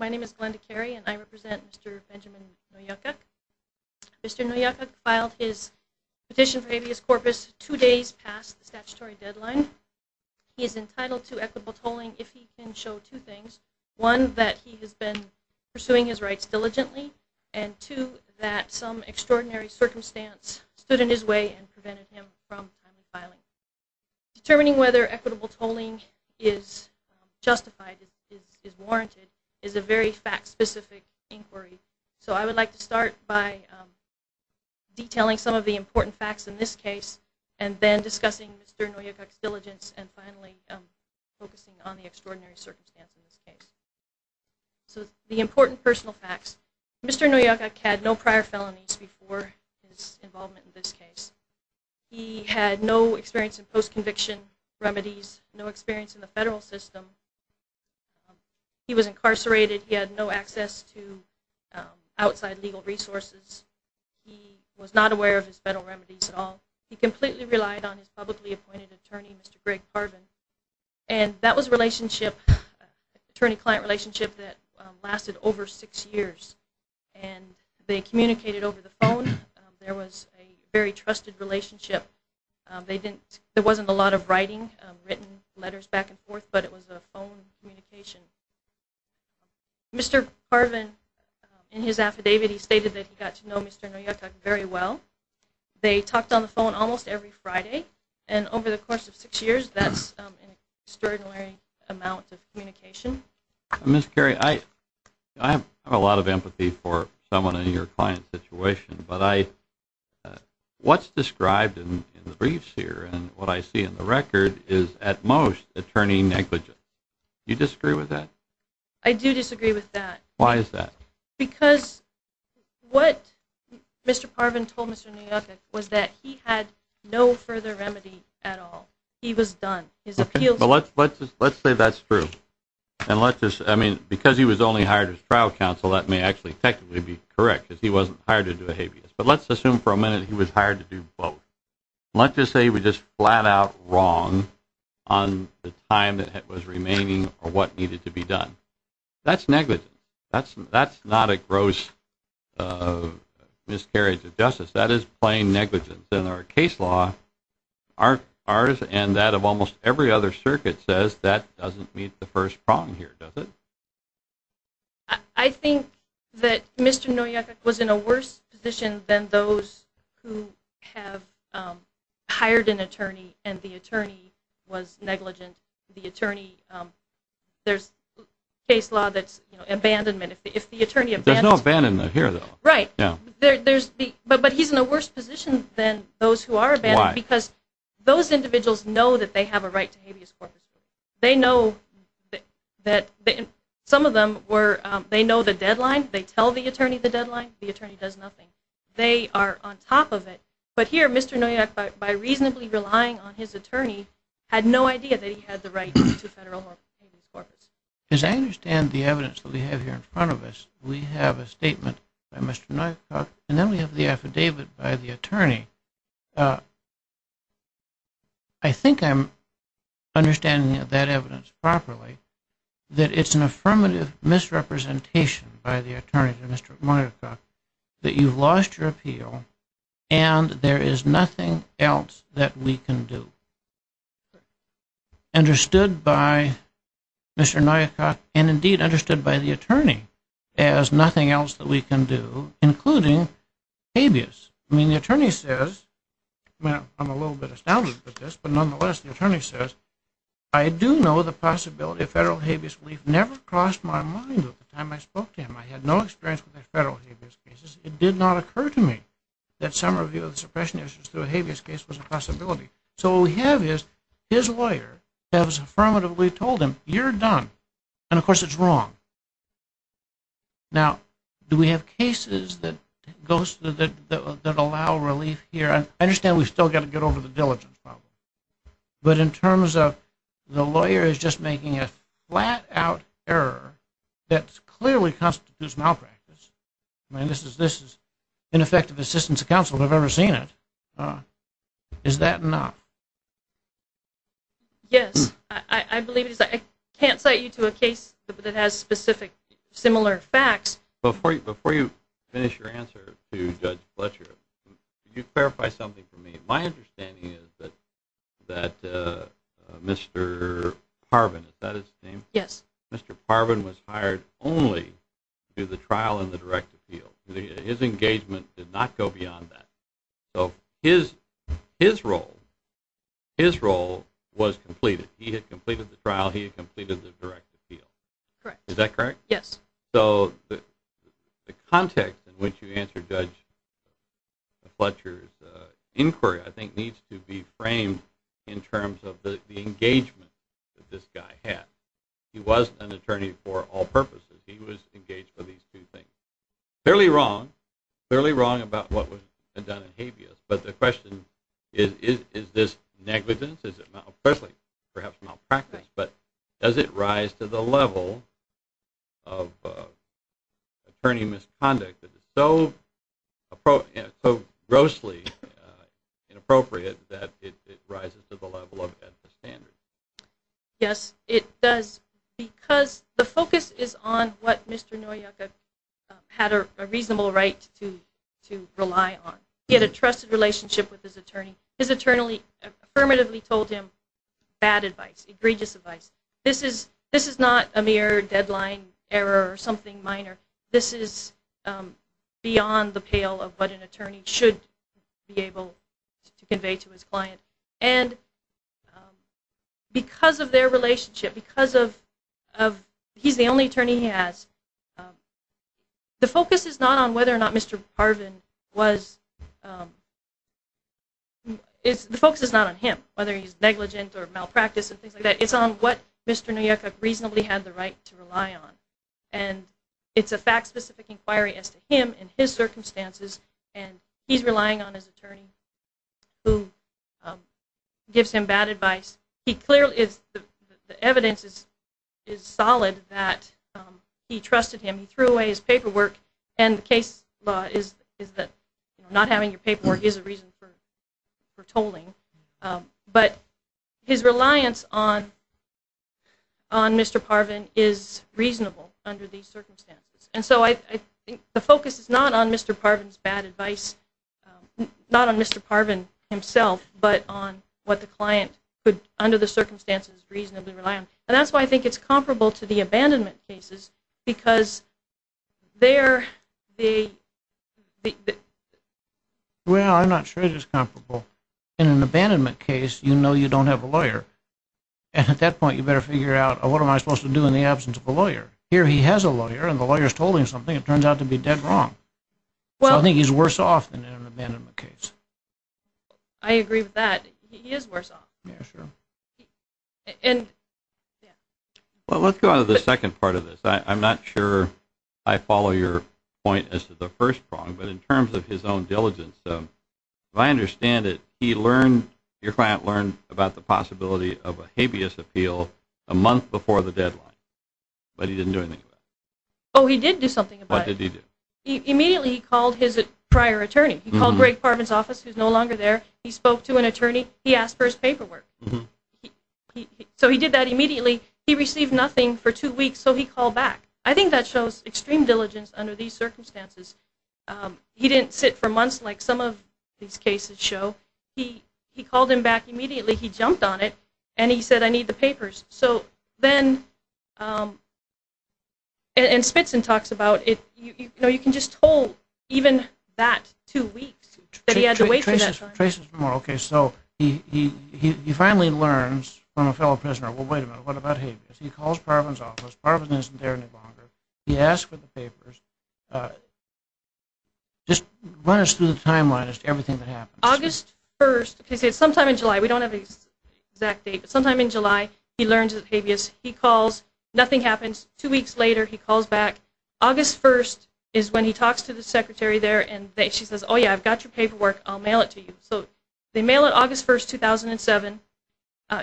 My name is Glenda Carey and I represent Mr. Benjamin Noyakuk. Mr. Noyakuk filed his petition for habeas corpus two days past the statutory deadline. He is entitled to equitable tolling if he can show two things. One, that he has been pursuing his rights diligently. And two, that some extraordinary circumstance stood in his way and prevented him from filing. Determining whether equitable tolling is justified, is warranted, is a very fact-specific inquiry. So I would like to start by detailing some of the important facts in this case and then discussing Mr. Noyakuk's diligence and finally focusing on the extraordinary circumstance in this case. So the important personal facts. Mr. Noyakuk had no prior felonies before his involvement in this case. He had no experience in post-conviction remedies, no experience in the federal system. He was incarcerated. He had no access to outside legal resources. He was not aware of his federal remedies at all. He completely relied on his publicly appointed attorney, Mr. Greg Carvin. And that was a relationship, attorney-client relationship, that lasted over six years. And they communicated over the phone. There was a very trusted relationship. There wasn't a lot of writing, written letters back and forth, but it was a phone communication. Mr. Carvin, in his affidavit, he stated that he got to know Mr. Noyakuk very well. They talked on the phone almost every Friday. And over the course of six years, that's an extraordinary amount of communication. Ms. Carey, I have a lot of empathy for someone in your client situation, but what's described in the briefs here and what I see in the record is, at most, attorney negligence. Do you disagree with that? I do disagree with that. Why is that? Because what Mr. Carvin told Mr. Noyakuk was that he had no further remedy at all. He was done. Let's say that's true. I mean, because he was only hired as trial counsel, that may actually technically be correct, because he wasn't hired to do a habeas. But let's assume for a minute he was hired to do both. Let's just say he was just flat-out wrong on the time that was remaining or what needed to be done. That's negligence. That's not a gross miscarriage of justice. That is plain negligence. Ours and that of almost every other circuit says that doesn't meet the first prong here, does it? I think that Mr. Noyakuk was in a worse position than those who have hired an attorney and the attorney was negligent. The attorney, there's a case law that's abandonment. There's no abandonment here, though. Right. But he's in a worse position than those who are abandoned. Why? Because those individuals know that they have a right to habeas corpus. They know that some of them, they know the deadline. They tell the attorney the deadline. The attorney does nothing. They are on top of it. But here, Mr. Noyakuk, by reasonably relying on his attorney, had no idea that he had the right to federal habeas corpus. As I understand the evidence that we have here in front of us, we have a statement by Mr. Noyakuk and then we have the affidavit by the attorney. I think I'm understanding that evidence properly, that it's an affirmative misrepresentation by the attorney to Mr. Noyakuk that you've lost your appeal and there is nothing else that we can do. Understood by Mr. Noyakuk and indeed understood by the attorney as nothing else that we can do, including habeas. I mean, the attorney says, I'm a little bit astounded by this, but nonetheless the attorney says, I do know the possibility of federal habeas relief never crossed my mind at the time I spoke to him. I had no experience with federal habeas cases. It did not occur to me that some review of the suppression issues through a habeas case was a possibility. So what we have is his lawyer has affirmatively told him, you're done, and of course it's wrong. Now, do we have cases that allow relief here? I understand we've still got to get over the diligence problem, but in terms of the lawyer is just making a flat-out error that clearly constitutes malpractice. I mean, this is ineffective assistance to counsel if I've ever seen it. Is that enough? Yes. I believe it is. I can't cite you to a case that has specific similar facts. Before you finish your answer to Judge Fletcher, could you clarify something for me? My understanding is that Mr. Parvin, is that his name? Yes. Mr. Parvin was hired only through the trial and the direct appeal. His engagement did not go beyond that. So his role was completed. He had completed the trial. He had completed the direct appeal. Correct. Is that correct? Yes. So the context in which you answered Judge Fletcher's inquiry, I think, needs to be framed in terms of the engagement that this guy had. He was an attorney for all purposes. He was engaged for these two things. Fairly wrong. Fairly wrong about what was done in habeas. But the question is, is this negligence? Is it malpractice? But does it rise to the level of attorney misconduct that is so grossly inappropriate that it rises to the level of at the standard? Yes, it does. Because the focus is on what Mr. Noyeka had a reasonable right to rely on. He had a trusted relationship with his attorney. His attorney affirmatively told him bad advice, egregious advice. This is not a mere deadline error or something minor. This is beyond the pale of what an attorney should be able to convey to his client. And because of their relationship, because of he's the only attorney he has, the focus is not on whether or not Mr. Harvin was ñ the focus is not on him, whether he's negligent or malpractice and things like that. It's on what Mr. Noyeka reasonably had the right to rely on. And it's a fact-specific inquiry as to him and his circumstances, and he's relying on his attorney who gives him bad advice. The evidence is solid that he trusted him. He threw away his paperwork, and the case law is that not having your paperwork is a reason for tolling. But his reliance on Mr. Harvin is reasonable under these circumstances. And so I think the focus is not on Mr. Harvin's bad advice, not on Mr. Harvin himself, but on what the client could, under the circumstances, reasonably rely on. And that's why I think it's comparable to the abandonment cases because they're the ñ Well, I'm not sure it is comparable. In an abandonment case, you know you don't have a lawyer. And at that point, you better figure out, what am I supposed to do in the absence of a lawyer? Here he has a lawyer, and the lawyer has told him something. It turns out to be dead wrong. So I think he's worse off than in an abandonment case. I agree with that. He is worse off. Yeah, sure. And ñ yeah. Well, let's go on to the second part of this. I'm not sure I follow your point as to the first prong. But in terms of his own diligence, if I understand it, he learned ñ your client learned about the possibility of a habeas appeal a month before the deadline. But he didn't do anything about it. Oh, he did do something about it. What did he do? Immediately he called his prior attorney. He called Greg Parvin's office, who's no longer there. He spoke to an attorney. He asked for his paperwork. So he did that immediately. He received nothing for two weeks, so he called back. I think that shows extreme diligence under these circumstances. He didn't sit for months like some of these cases show. He called him back immediately. He jumped on it, and he said, I need the papers. So then ñ and Spitzin talks about it. You know, you can just hold even that two weeks that he had to wait for that time. Trace this more. Okay, so he finally learns from a fellow prisoner, well, wait a minute, what about habeas? He calls Parvin's office. Parvin isn't there any longer. He asks for the papers. Just run us through the timeline as to everything that happens. August 1st, okay, so sometime in July. We don't have the exact date. Sometime in July, he learns of habeas. He calls. Nothing happens. Two weeks later, he calls back. August 1st is when he talks to the secretary there, and she says, oh, yeah, I've got your paperwork. I'll mail it to you. So they mail it August 1st, 2007.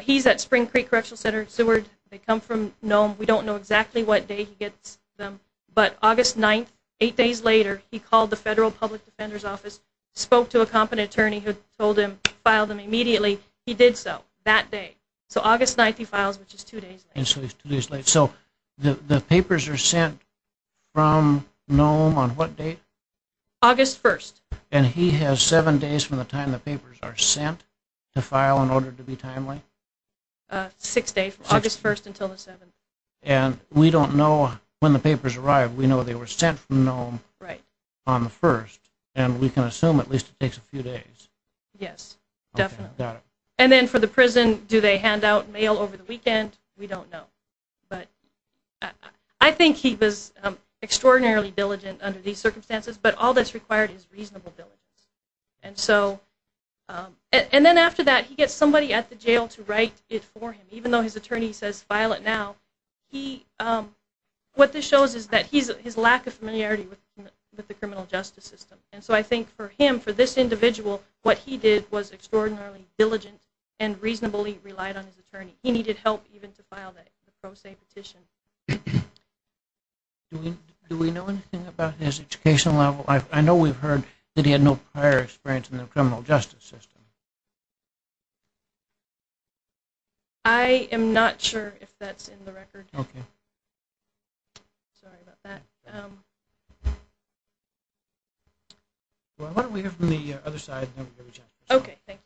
He's at Spring Creek Correctional Center, Seward. They come from Nome. We don't know exactly what day he gets them. But August 9th, eight days later, he called the Federal Public Defender's Office, spoke to a competent attorney who told him to file them immediately. He did so that day. So August 9th, he files, which is two days later. And so he's two days late. So the papers are sent from Nome on what date? August 1st. And he has seven days from the time the papers are sent to file in order to be timely? Six days, August 1st until the 7th. And we don't know when the papers arrive. We know they were sent from Nome on the 1st, and we can assume at least it takes a few days. Yes, definitely. Got it. And then for the prison, do they hand out mail over the weekend? We don't know. But I think he was extraordinarily diligent under these circumstances, but all that's required is reasonable diligence. And then after that, he gets somebody at the jail to write it for him, even though his attorney says file it now. What this shows is his lack of familiarity with the criminal justice system. And so I think for him, for this individual, what he did was extraordinarily diligent and reasonably relied on his attorney. He needed help even to file that pro se petition. Do we know anything about his educational level? I know we've heard that he had no prior experience in the criminal justice system. Okay. Sorry about that. Why don't we hear from the other side and then we can reach out. Okay, thanks.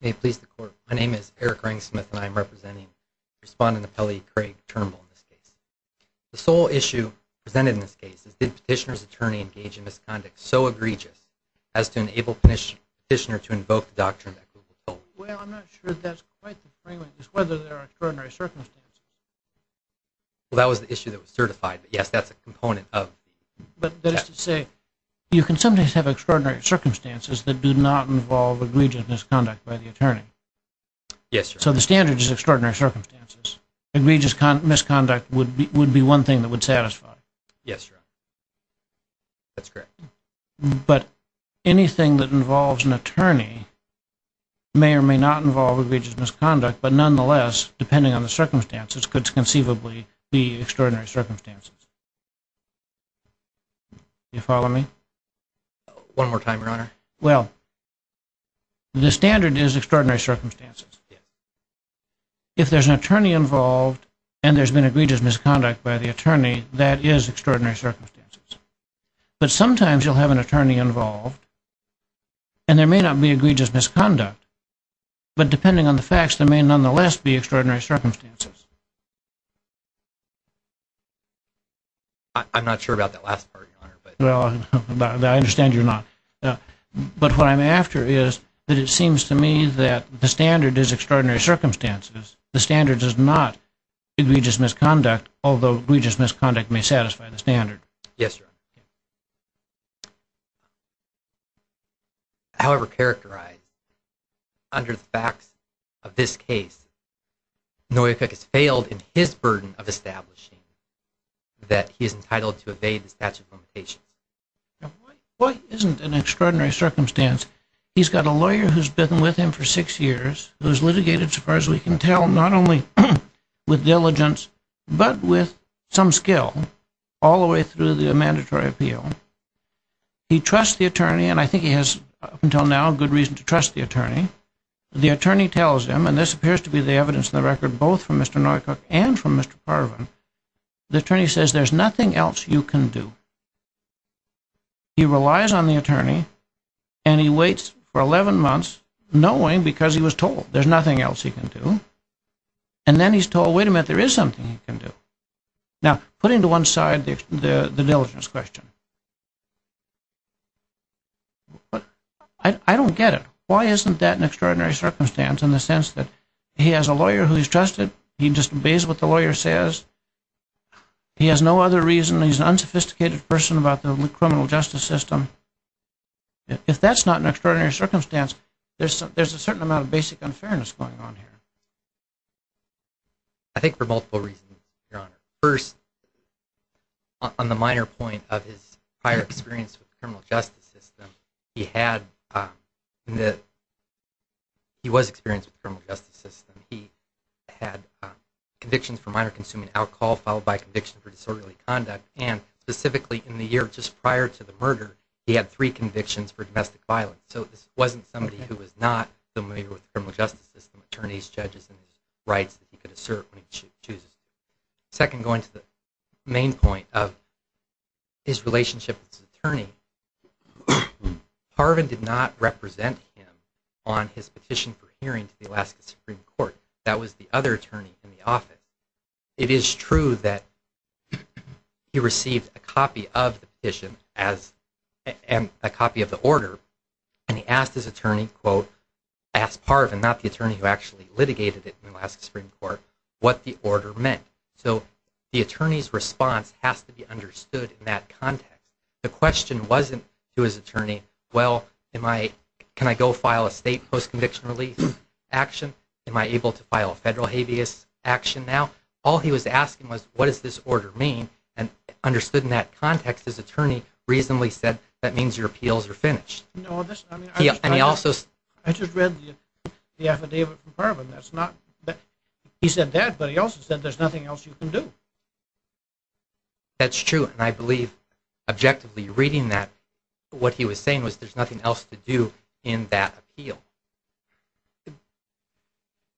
May it please the Court. My name is Eric Rangsmith, and I'm representing Respondent Appellee Craig Turnbull in this case. The sole issue presented in this case is, did the petitioner's attorney engage in misconduct so egregious as to enable the petitioner to invoke the doctrine that Google told him? Well, I'm not sure that's quite the framework. It's whether there are extraordinary circumstances. Well, that was the issue that was certified. But, yes, that's a component of that. But that is to say, you can sometimes have extraordinary circumstances that do not involve egregious misconduct by the attorney. Yes, sir. So the standard is extraordinary circumstances. Egregious misconduct would be one thing that would satisfy. Yes, sir. That's correct. But anything that involves an attorney may or may not involve egregious misconduct, but nonetheless, depending on the circumstances, could conceivably be extraordinary circumstances. Do you follow me? One more time, Your Honor. Well, the standard is extraordinary circumstances. Yes. If there's an attorney involved, and there's been egregious misconduct by the attorney, that is extraordinary circumstances. But sometimes you'll have an attorney involved, and there may not be egregious misconduct. But depending on the facts, there may nonetheless be extraordinary circumstances. I'm not sure about that last part, Your Honor. Well, I understand you're not. But what I'm after is that it seems to me that the standard is extraordinary circumstances. The standard does not be egregious misconduct, although egregious misconduct may satisfy the standard. Yes, sir. However characterized, under the facts of this case, Noye Cook has failed in his burden of establishing that he is entitled to evade the statute of limitations. What isn't an extraordinary circumstance? He's got a lawyer who's been with him for six years, who's litigated, so far as we can tell, not only with diligence, but with some skill, all the way through the mandatory appeal. He trusts the attorney, and I think he has, up until now, good reason to trust the attorney. The attorney tells him, and this appears to be the evidence in the record, both from Mr. Noye Cook and from Mr. Parvin, the attorney says there's nothing else you can do. He relies on the attorney, and he waits for 11 months, knowing because he was told there's nothing else he can do. And then he's told, wait a minute, there is something he can do. Now, putting to one side the diligence question, I don't get it. Why isn't that an extraordinary circumstance in the sense that he has a lawyer who he's trusted, he just obeys what the lawyer says, he has no other reason, he's an unsophisticated person about the criminal justice system? If that's not an extraordinary circumstance, there's a certain amount of basic unfairness going on here. I think for multiple reasons, Your Honor. First, on the minor point of his prior experience with the criminal justice system, he was experienced with the criminal justice system. He had convictions for minor consuming alcohol, followed by conviction for disorderly conduct, and specifically in the year just prior to the murder, he had three convictions for domestic violence. So this wasn't somebody who was not familiar with the criminal justice system, attorneys, judges, and rights that he could assert when he chooses. Second, going to the main point of his relationship with his attorney, Parvin did not represent him on his petition for hearing to the Alaska Supreme Court. That was the other attorney in the office. It is true that he received a copy of the petition and a copy of the order, and he asked his attorney, quote, I asked Parvin, not the attorney who actually litigated it in the Alaska Supreme Court, what the order meant. So the attorney's response has to be understood in that context. The question wasn't to his attorney, well, can I go file a state post-conviction release action? Am I able to file a federal habeas action now? All he was asking was, what does this order mean? And understood in that context, his attorney reasonably said, that means your appeals are finished. I just read the affidavit from Parvin. He said that, but he also said there's nothing else you can do. That's true, and I believe objectively reading that, what he was saying was there's nothing else to do in that appeal.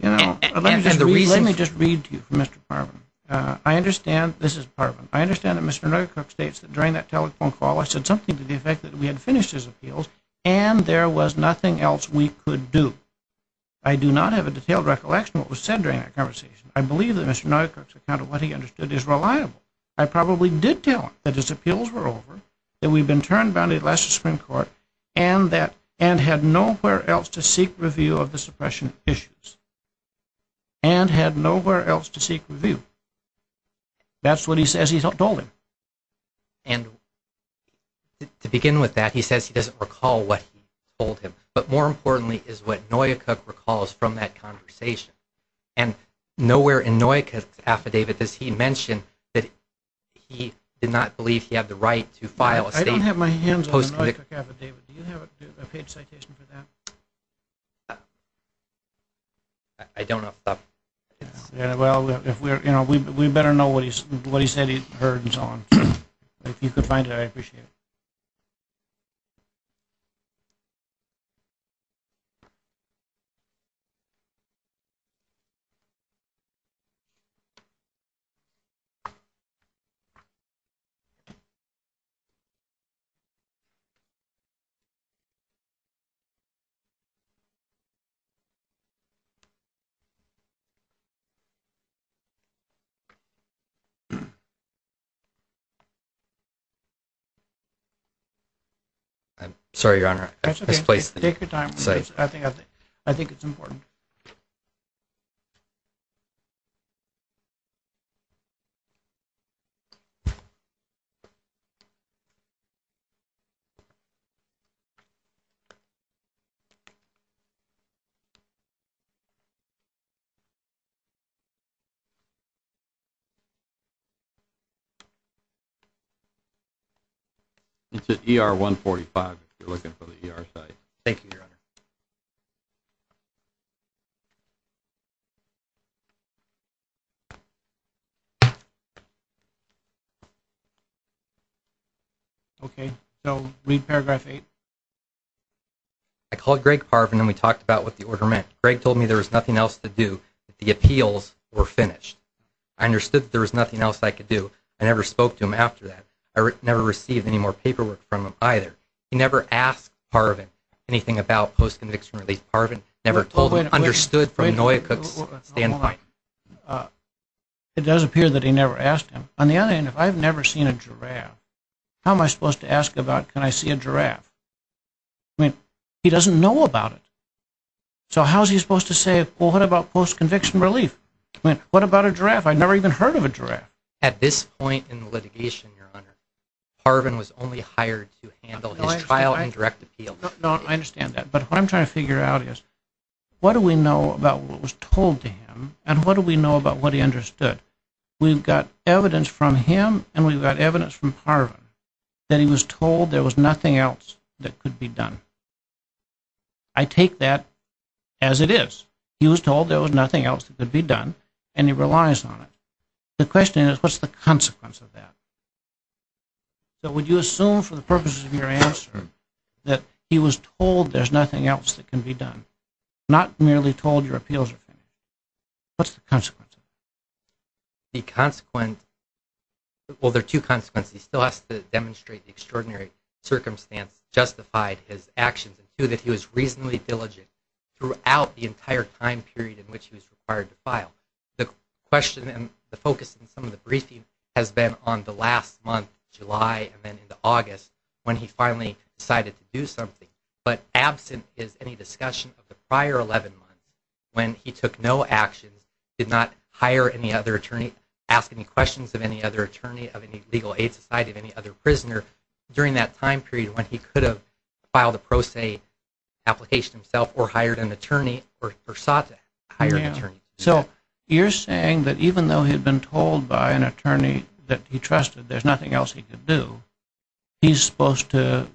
Let me just read to you, Mr. Parvin. I understand, this is Parvin, I understand that Mr. Nuttercook states that during that telephone call, I said something to the effect that we had finished his appeals, and there was nothing else we could do. I do not have a detailed recollection of what was said during that conversation. I believe that Mr. Nuttercook's account of what he understood is reliable. I probably did tell him that his appeals were over, that we'd been turned down in the Alaska Supreme Court, and had nowhere else to seek review of the suppression issues. And had nowhere else to seek review. That's what he says he told him. And to begin with that, he says he doesn't recall what he told him. But more importantly is what Noyakook recalls from that conversation. And nowhere in Noyakook's affidavit does he mention that he did not believe he had the right to file a statement. I don't have my hands on the Noyakook affidavit. Do you have a page citation for that? I don't have that. Well, we better know what he said he heard and so on. If you could find it, I'd appreciate it. Sorry, Your Honor. Take your time. I think it's important. It's at ER 145 if you're looking for the ER site. Thank you, Your Honor. Okay. So read paragraph 8. I called Greg Parvin and we talked about what the order meant. Greg told me there was nothing else to do. The appeals were finished. I understood that there was nothing else I could do. I never spoke to him after that. I never received any more paperwork from him either. He never asked Parvin anything about post-conviction relief. Parvin never told him, understood from Noyakook's standpoint. It does appear that he never asked him. On the other hand, if I've never seen a giraffe, how am I supposed to ask about can I see a giraffe? I mean, he doesn't know about it. So how is he supposed to say, well, what about post-conviction relief? What about a giraffe? I've never even heard of a giraffe. At this point in the litigation, Your Honor, Parvin was only hired to handle his trial and direct appeal. No, I understand that, but what I'm trying to figure out is what do we know about what was told to him and what do we know about what he understood? We've got evidence from him and we've got evidence from Parvin that he was told there was nothing else that could be done. I take that as it is. He was told there was nothing else that could be done, and he relies on it. The question is, what's the consequence of that? So would you assume for the purposes of your answer that he was told there's nothing else that can be done, not merely told your appeals are finished? What's the consequence? The consequence, well, there are two consequences. He still has to demonstrate the extraordinary circumstance that has justified his actions, and two, that he was reasonably diligent throughout the entire time period in which he was required to file. The question and the focus in some of the briefing has been on the last month, July, and then into August, when he finally decided to do something. But absent is any discussion of the prior 11 months when he took no actions, did not hire any other attorney, ask any questions of any other attorney, of any legal aid society, of any other prisoner during that time period when he could have filed a pro se application himself or hired an attorney or sought to hire an attorney. So you're saying that even though he had been told by an attorney that he trusted there's nothing else he could do, he's supposed to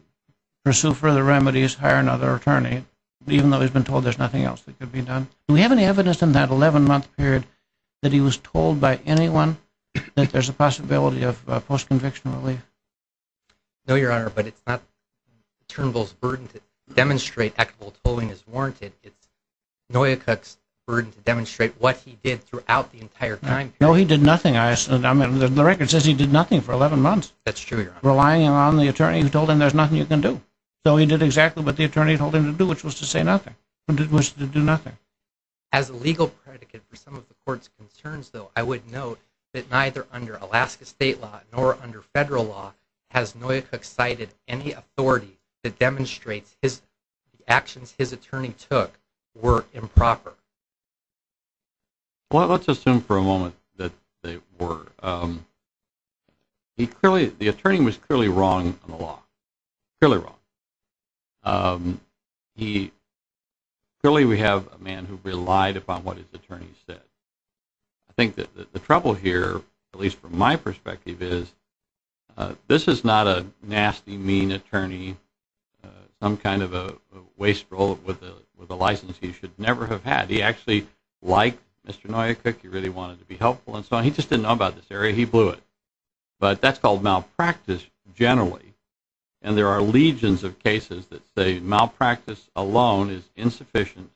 pursue further remedies, hire another attorney, even though he's been told there's nothing else that could be done. Do we have any evidence in that 11-month period that he was told by anyone that there's a possibility of post-conviction relief? No, Your Honor, but it's not Turnbull's burden to demonstrate equitable tolling is warranted. It's Noyakuk's burden to demonstrate what he did throughout the entire time period. No, he did nothing. The record says he did nothing for 11 months. That's true, Your Honor. Relying on the attorney who told him there's nothing you can do. So he did exactly what the attorney told him to do, which was to say nothing, which was to do nothing. As a legal predicate for some of the court's concerns, though, I would note that neither under Alaska state law nor under federal law has Noyakuk cited any authority that demonstrates the actions his attorney took were improper. Well, let's assume for a moment that they were. The attorney was clearly wrong on the law, clearly wrong. Clearly we have a man who relied upon what his attorney said. I think that the trouble here, at least from my perspective, is this is not a nasty, mean attorney, some kind of a wasteful with a license he should never have had. He actually liked Mr. Noyakuk, he really wanted to be helpful, and so he just didn't know about this area, he blew it. But that's called malpractice generally, and there are legions of cases that say malpractice alone is insufficient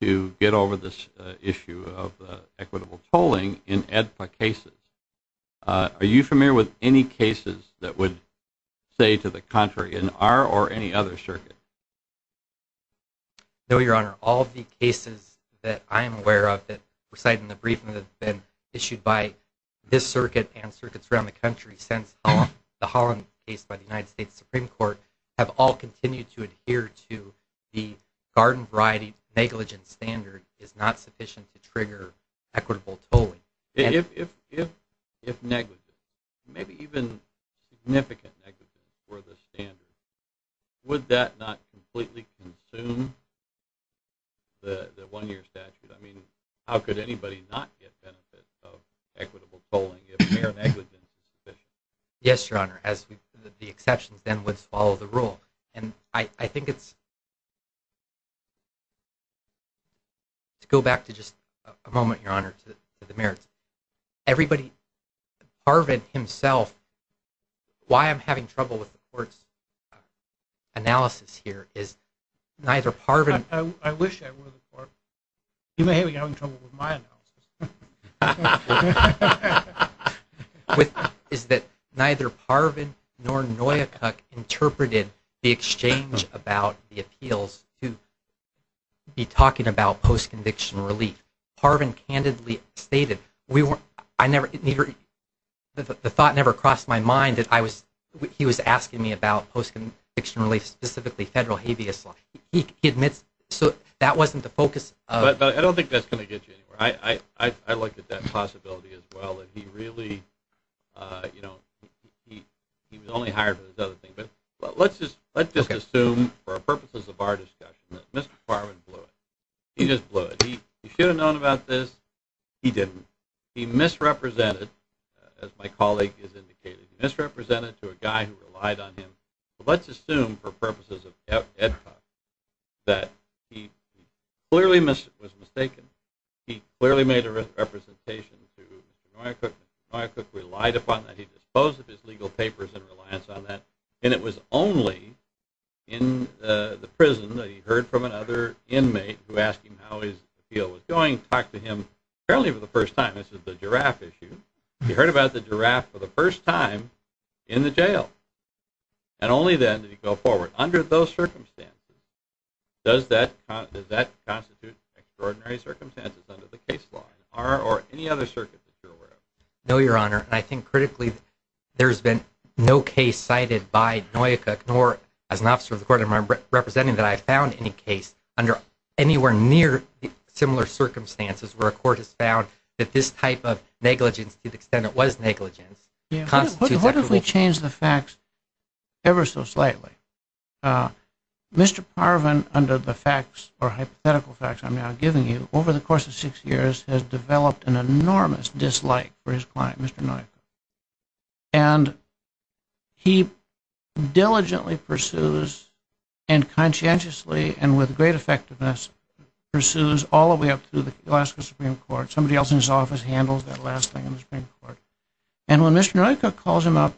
to get over this issue of equitable tolling in AEDPA cases. Are you familiar with any cases that would say to the contrary in our or any other circuit? No, Your Honor. All of the cases that I am aware of that were cited in the briefing that have been issued by this circuit and circuits around the country since the Holland case by the United States Supreme Court have all continued to adhere to the garden variety negligence standard is not sufficient to trigger equitable tolling. If negligence, maybe even significant negligence were the standard, would that not completely consume the one-year statute? I mean, how could anybody not get benefits of equitable tolling Yes, Your Honor. As the exceptions then would follow the rule. And I think it's to go back to just a moment, Your Honor, to the merits. Everybody, Parvin himself, why I'm having trouble with the court's analysis here is neither Parvin… I wish I were the court. You may be having trouble with my analysis. …is that neither Parvin nor Noyakuk interpreted the exchange about the appeals to be talking about post-conviction relief. Parvin candidly stated, the thought never crossed my mind that he was asking me about post-conviction relief, specifically federal habeas law. He admits that wasn't the focus of… I don't think that's going to get you anywhere. I looked at that possibility as well. He really, you know, he was only hired for this other thing. But let's just assume for purposes of our discussion that Mr. Parvin blew it. He just blew it. He should have known about this. He didn't. He misrepresented, as my colleague has indicated, he misrepresented to a guy who relied on him. Let's assume for purposes of EDPA that he clearly was mistaken. He clearly made a representation to Mr. Noyakuk. Mr. Noyakuk relied upon that. He disposed of his legal papers in reliance on that. And it was only in the prison that he heard from another inmate who asked him how his appeal was going, talked to him apparently for the first time. This is the giraffe issue. He heard about the giraffe for the first time in the jail. And only then did he go forward. Under those circumstances, does that constitute extraordinary circumstances under the case law or any other circuit that you're aware of? No, Your Honor. I think critically there's been no case cited by Noyakuk nor as an officer of the court I'm representing that I found any case under anywhere near similar circumstances where a court has found that this type of negligence to the extent it was negligence constitutes... What if we change the facts ever so slightly? Mr. Parvin, under the facts or hypothetical facts I'm now giving you, over the course of six years has developed an enormous dislike for his client, Mr. Noyakuk. And he diligently pursues and conscientiously and with great effectiveness pursues all the way up to the Alaska Supreme Court. Somebody else in his office handles that last thing in the Supreme Court. And when Mr. Noyakuk calls him up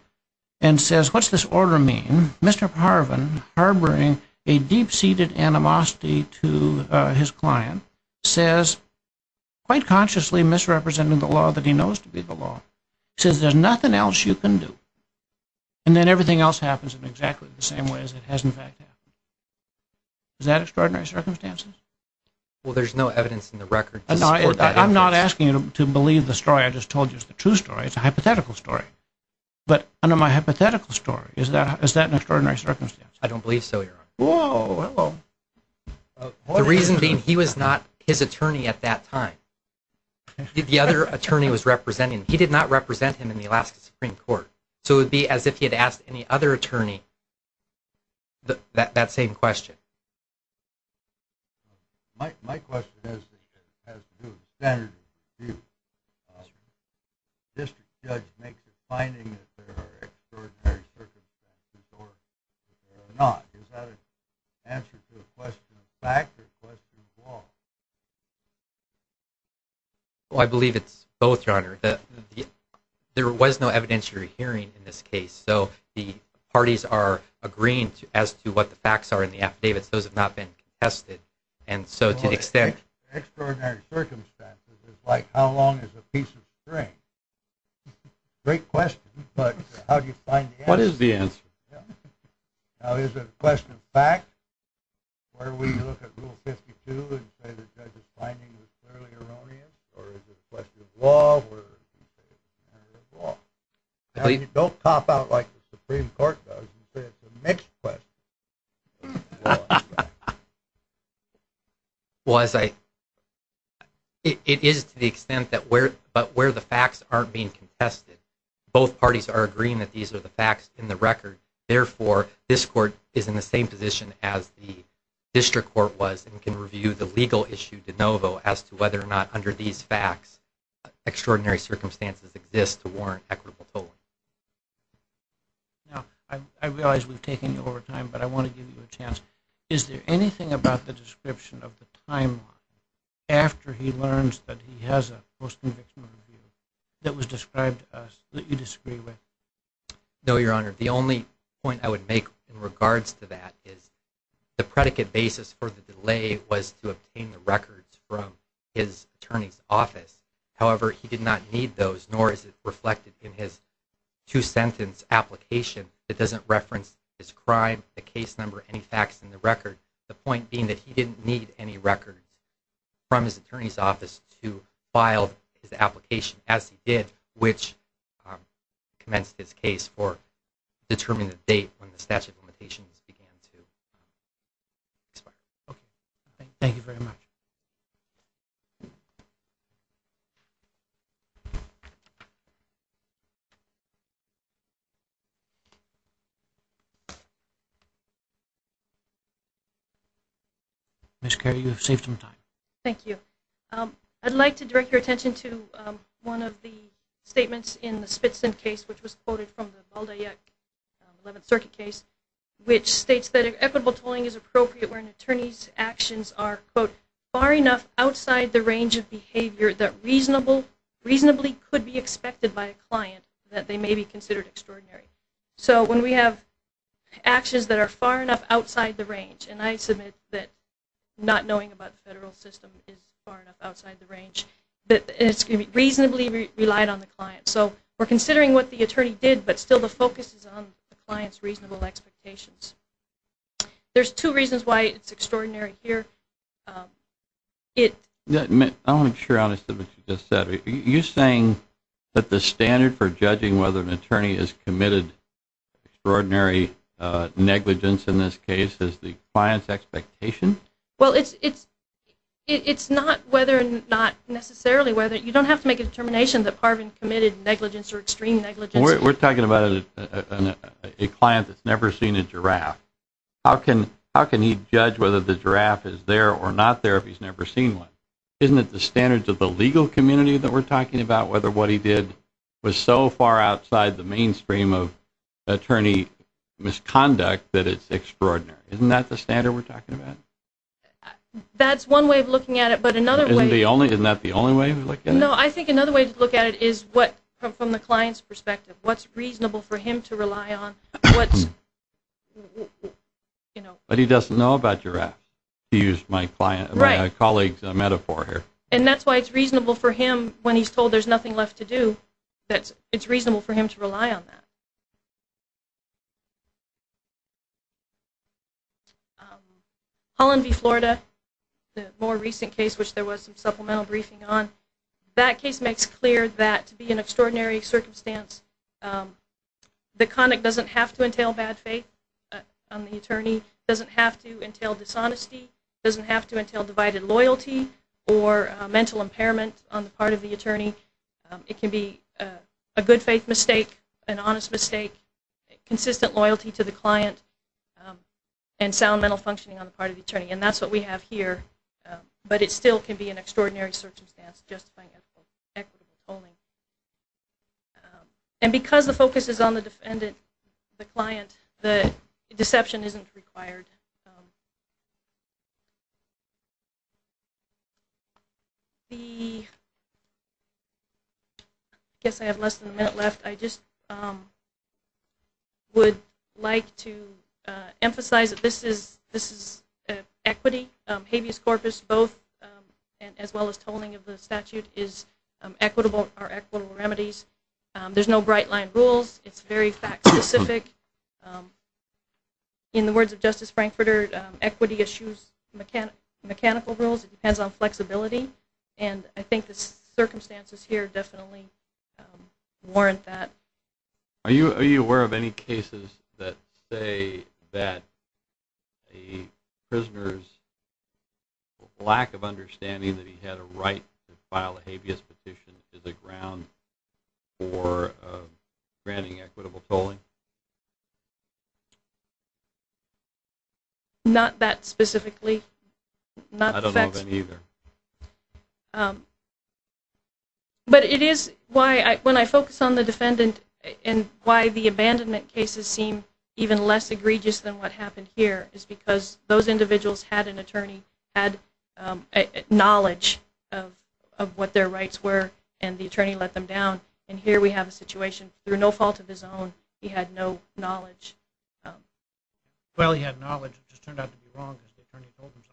and says, what's this order mean, Mr. Parvin, harboring a deep-seated animosity to his client, says, quite consciously misrepresenting the law that he knows to be the law, says there's nothing else you can do. And then everything else happens in exactly the same way as it has in fact happened. Is that extraordinary circumstances? Well, there's no evidence in the record to support that evidence. I'm not asking you to believe the story I just told you. It's the true story. It's a hypothetical story. But under my hypothetical story, is that an extraordinary circumstance? I don't believe so, Your Honor. Whoa. The reason being he was not his attorney at that time. The other attorney was representing him. He did not represent him in the Alaska Supreme Court. So it would be as if he had asked any other attorney that same question. My question has to do with the standard of view. District judge makes a finding that there are extraordinary circumstances or there are not. Is that an answer to a question of fact or a question of law? I believe it's both, Your Honor. There was no evidentiary hearing in this case. So the parties are agreeing as to what the facts are in the affidavits. Those have not been contested. And so to the extent— Extraordinary circumstances is like how long is a piece of string? Great question, but how do you find the answer? What is the answer? Now, is it a question of fact? Why would you look at Rule 52 and say the judge's finding was clearly erroneous? Or is it a question of law? Don't cop out like the Supreme Court does and say it's a mixed question. It is to the extent that where the facts aren't being contested, both parties are agreeing that these are the facts in the record. Therefore, this court is in the same position as the district court was and can review the legal issue de novo as to whether or not under these facts extraordinary circumstances exist to warrant equitable tolling. Now, I realize we've taken you over time, but I want to give you a chance. Is there anything about the description of the timeline after he learns that he has a post-convictional review that was described to us that you disagree with? No, Your Honor. The only point I would make in regards to that is the predicate basis for the delay was to obtain the records from his attorney's office. However, he did not need those, nor is it reflected in his two-sentence application that doesn't reference his crime, the case number, any facts in the record. The point being that he didn't need any records from his attorney's office to file his application as he did, which commenced his case for determining the date when the statute of limitations began to expire. Okay. Thank you very much. Ms. Carey, you have saved some time. Thank you. I'd like to direct your attention to one of the statements in the Spitzin case, which was quoted from the Baldayek 11th Circuit case, which states that equitable tolling is appropriate when an attorney's actions are, quote, far enough outside the range of behavior that reasonably could be expected by a client that they may be considered extraordinary. So when we have actions that are far enough outside the range, and I submit that not knowing about the federal system is far enough outside the range, that it's going to be reasonably relied on the client. So we're considering what the attorney did, but still the focus is on the client's reasonable expectations. There's two reasons why it's extraordinary here. I want to make sure I understood what you just said. Are you saying that the standard for judging whether an attorney has committed extraordinary negligence in this case is the client's expectation? Well, it's not whether or not necessarily whether. You don't have to make a determination that Parvin committed negligence or extreme negligence. We're talking about a client that's never seen a giraffe. How can he judge whether the giraffe is there or not there if he's never seen one? Isn't it the standards of the legal community that we're talking about, whether what he did was so far outside the mainstream of attorney misconduct that it's extraordinary? Isn't that the standard we're talking about? That's one way of looking at it. Isn't that the only way to look at it? No, I think another way to look at it is from the client's perspective. What's reasonable for him to rely on? But he doesn't know about giraffes, to use my colleague's metaphor here. And that's why it's reasonable for him, when he's told there's nothing left to do, it's reasonable for him to rely on that. Holland v. Florida, the more recent case which there was some supplemental briefing on, that case makes clear that to be in an extraordinary circumstance, the conduct doesn't have to entail bad faith on the attorney, doesn't have to entail dishonesty, doesn't have to entail divided loyalty or mental impairment on the part of the attorney. It can be a good faith mistake, an honest mistake, consistent loyalty to the client, and sound mental functioning on the part of the attorney. And that's what we have here. But it still can be an extraordinary circumstance, justifying equitable polling. And because the focus is on the defendant, the client, the deception isn't required. I guess I have less than a minute left. I just would like to emphasize that this is equity. Habeas corpus, both as well as tolling of the statute, are equitable remedies. There's no bright-line rules. It's very fact-specific. In the words of Justice Frankfurter, equity eschews mechanical rules. It depends on flexibility. And I think the circumstances here definitely warrant that. Are you aware of any cases that say that a prisoner's lack of understanding that he had a right to file a habeas petition is a ground for granting equitable tolling? Not that specifically. I don't know of any either. But it is why, when I focus on the defendant, and why the abandonment cases seem even less egregious than what happened here, is because those individuals had an attorney, had knowledge of what their rights were, and the attorney let them down. And here we have a situation. Through no fault of his own, he had no knowledge. Well, he had knowledge. It just turned out to be wrong because the attorney told him so.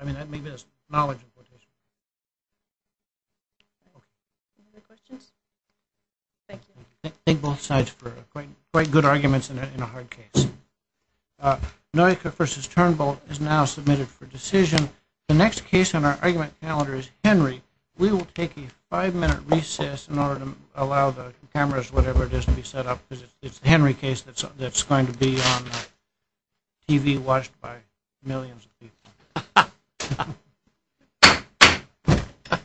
I mean, maybe it's knowledge. Okay. Any other questions? Thank you. Thank both sides for quite good arguments in a hard case. Noika v. Turnbull is now submitted for decision. The next case on our argument calendar is Henry. We will take a five-minute recess in order to allow the cameras, whatever it is, to be set up, because it's the Henry case that's going to be on TV watched by millions of people.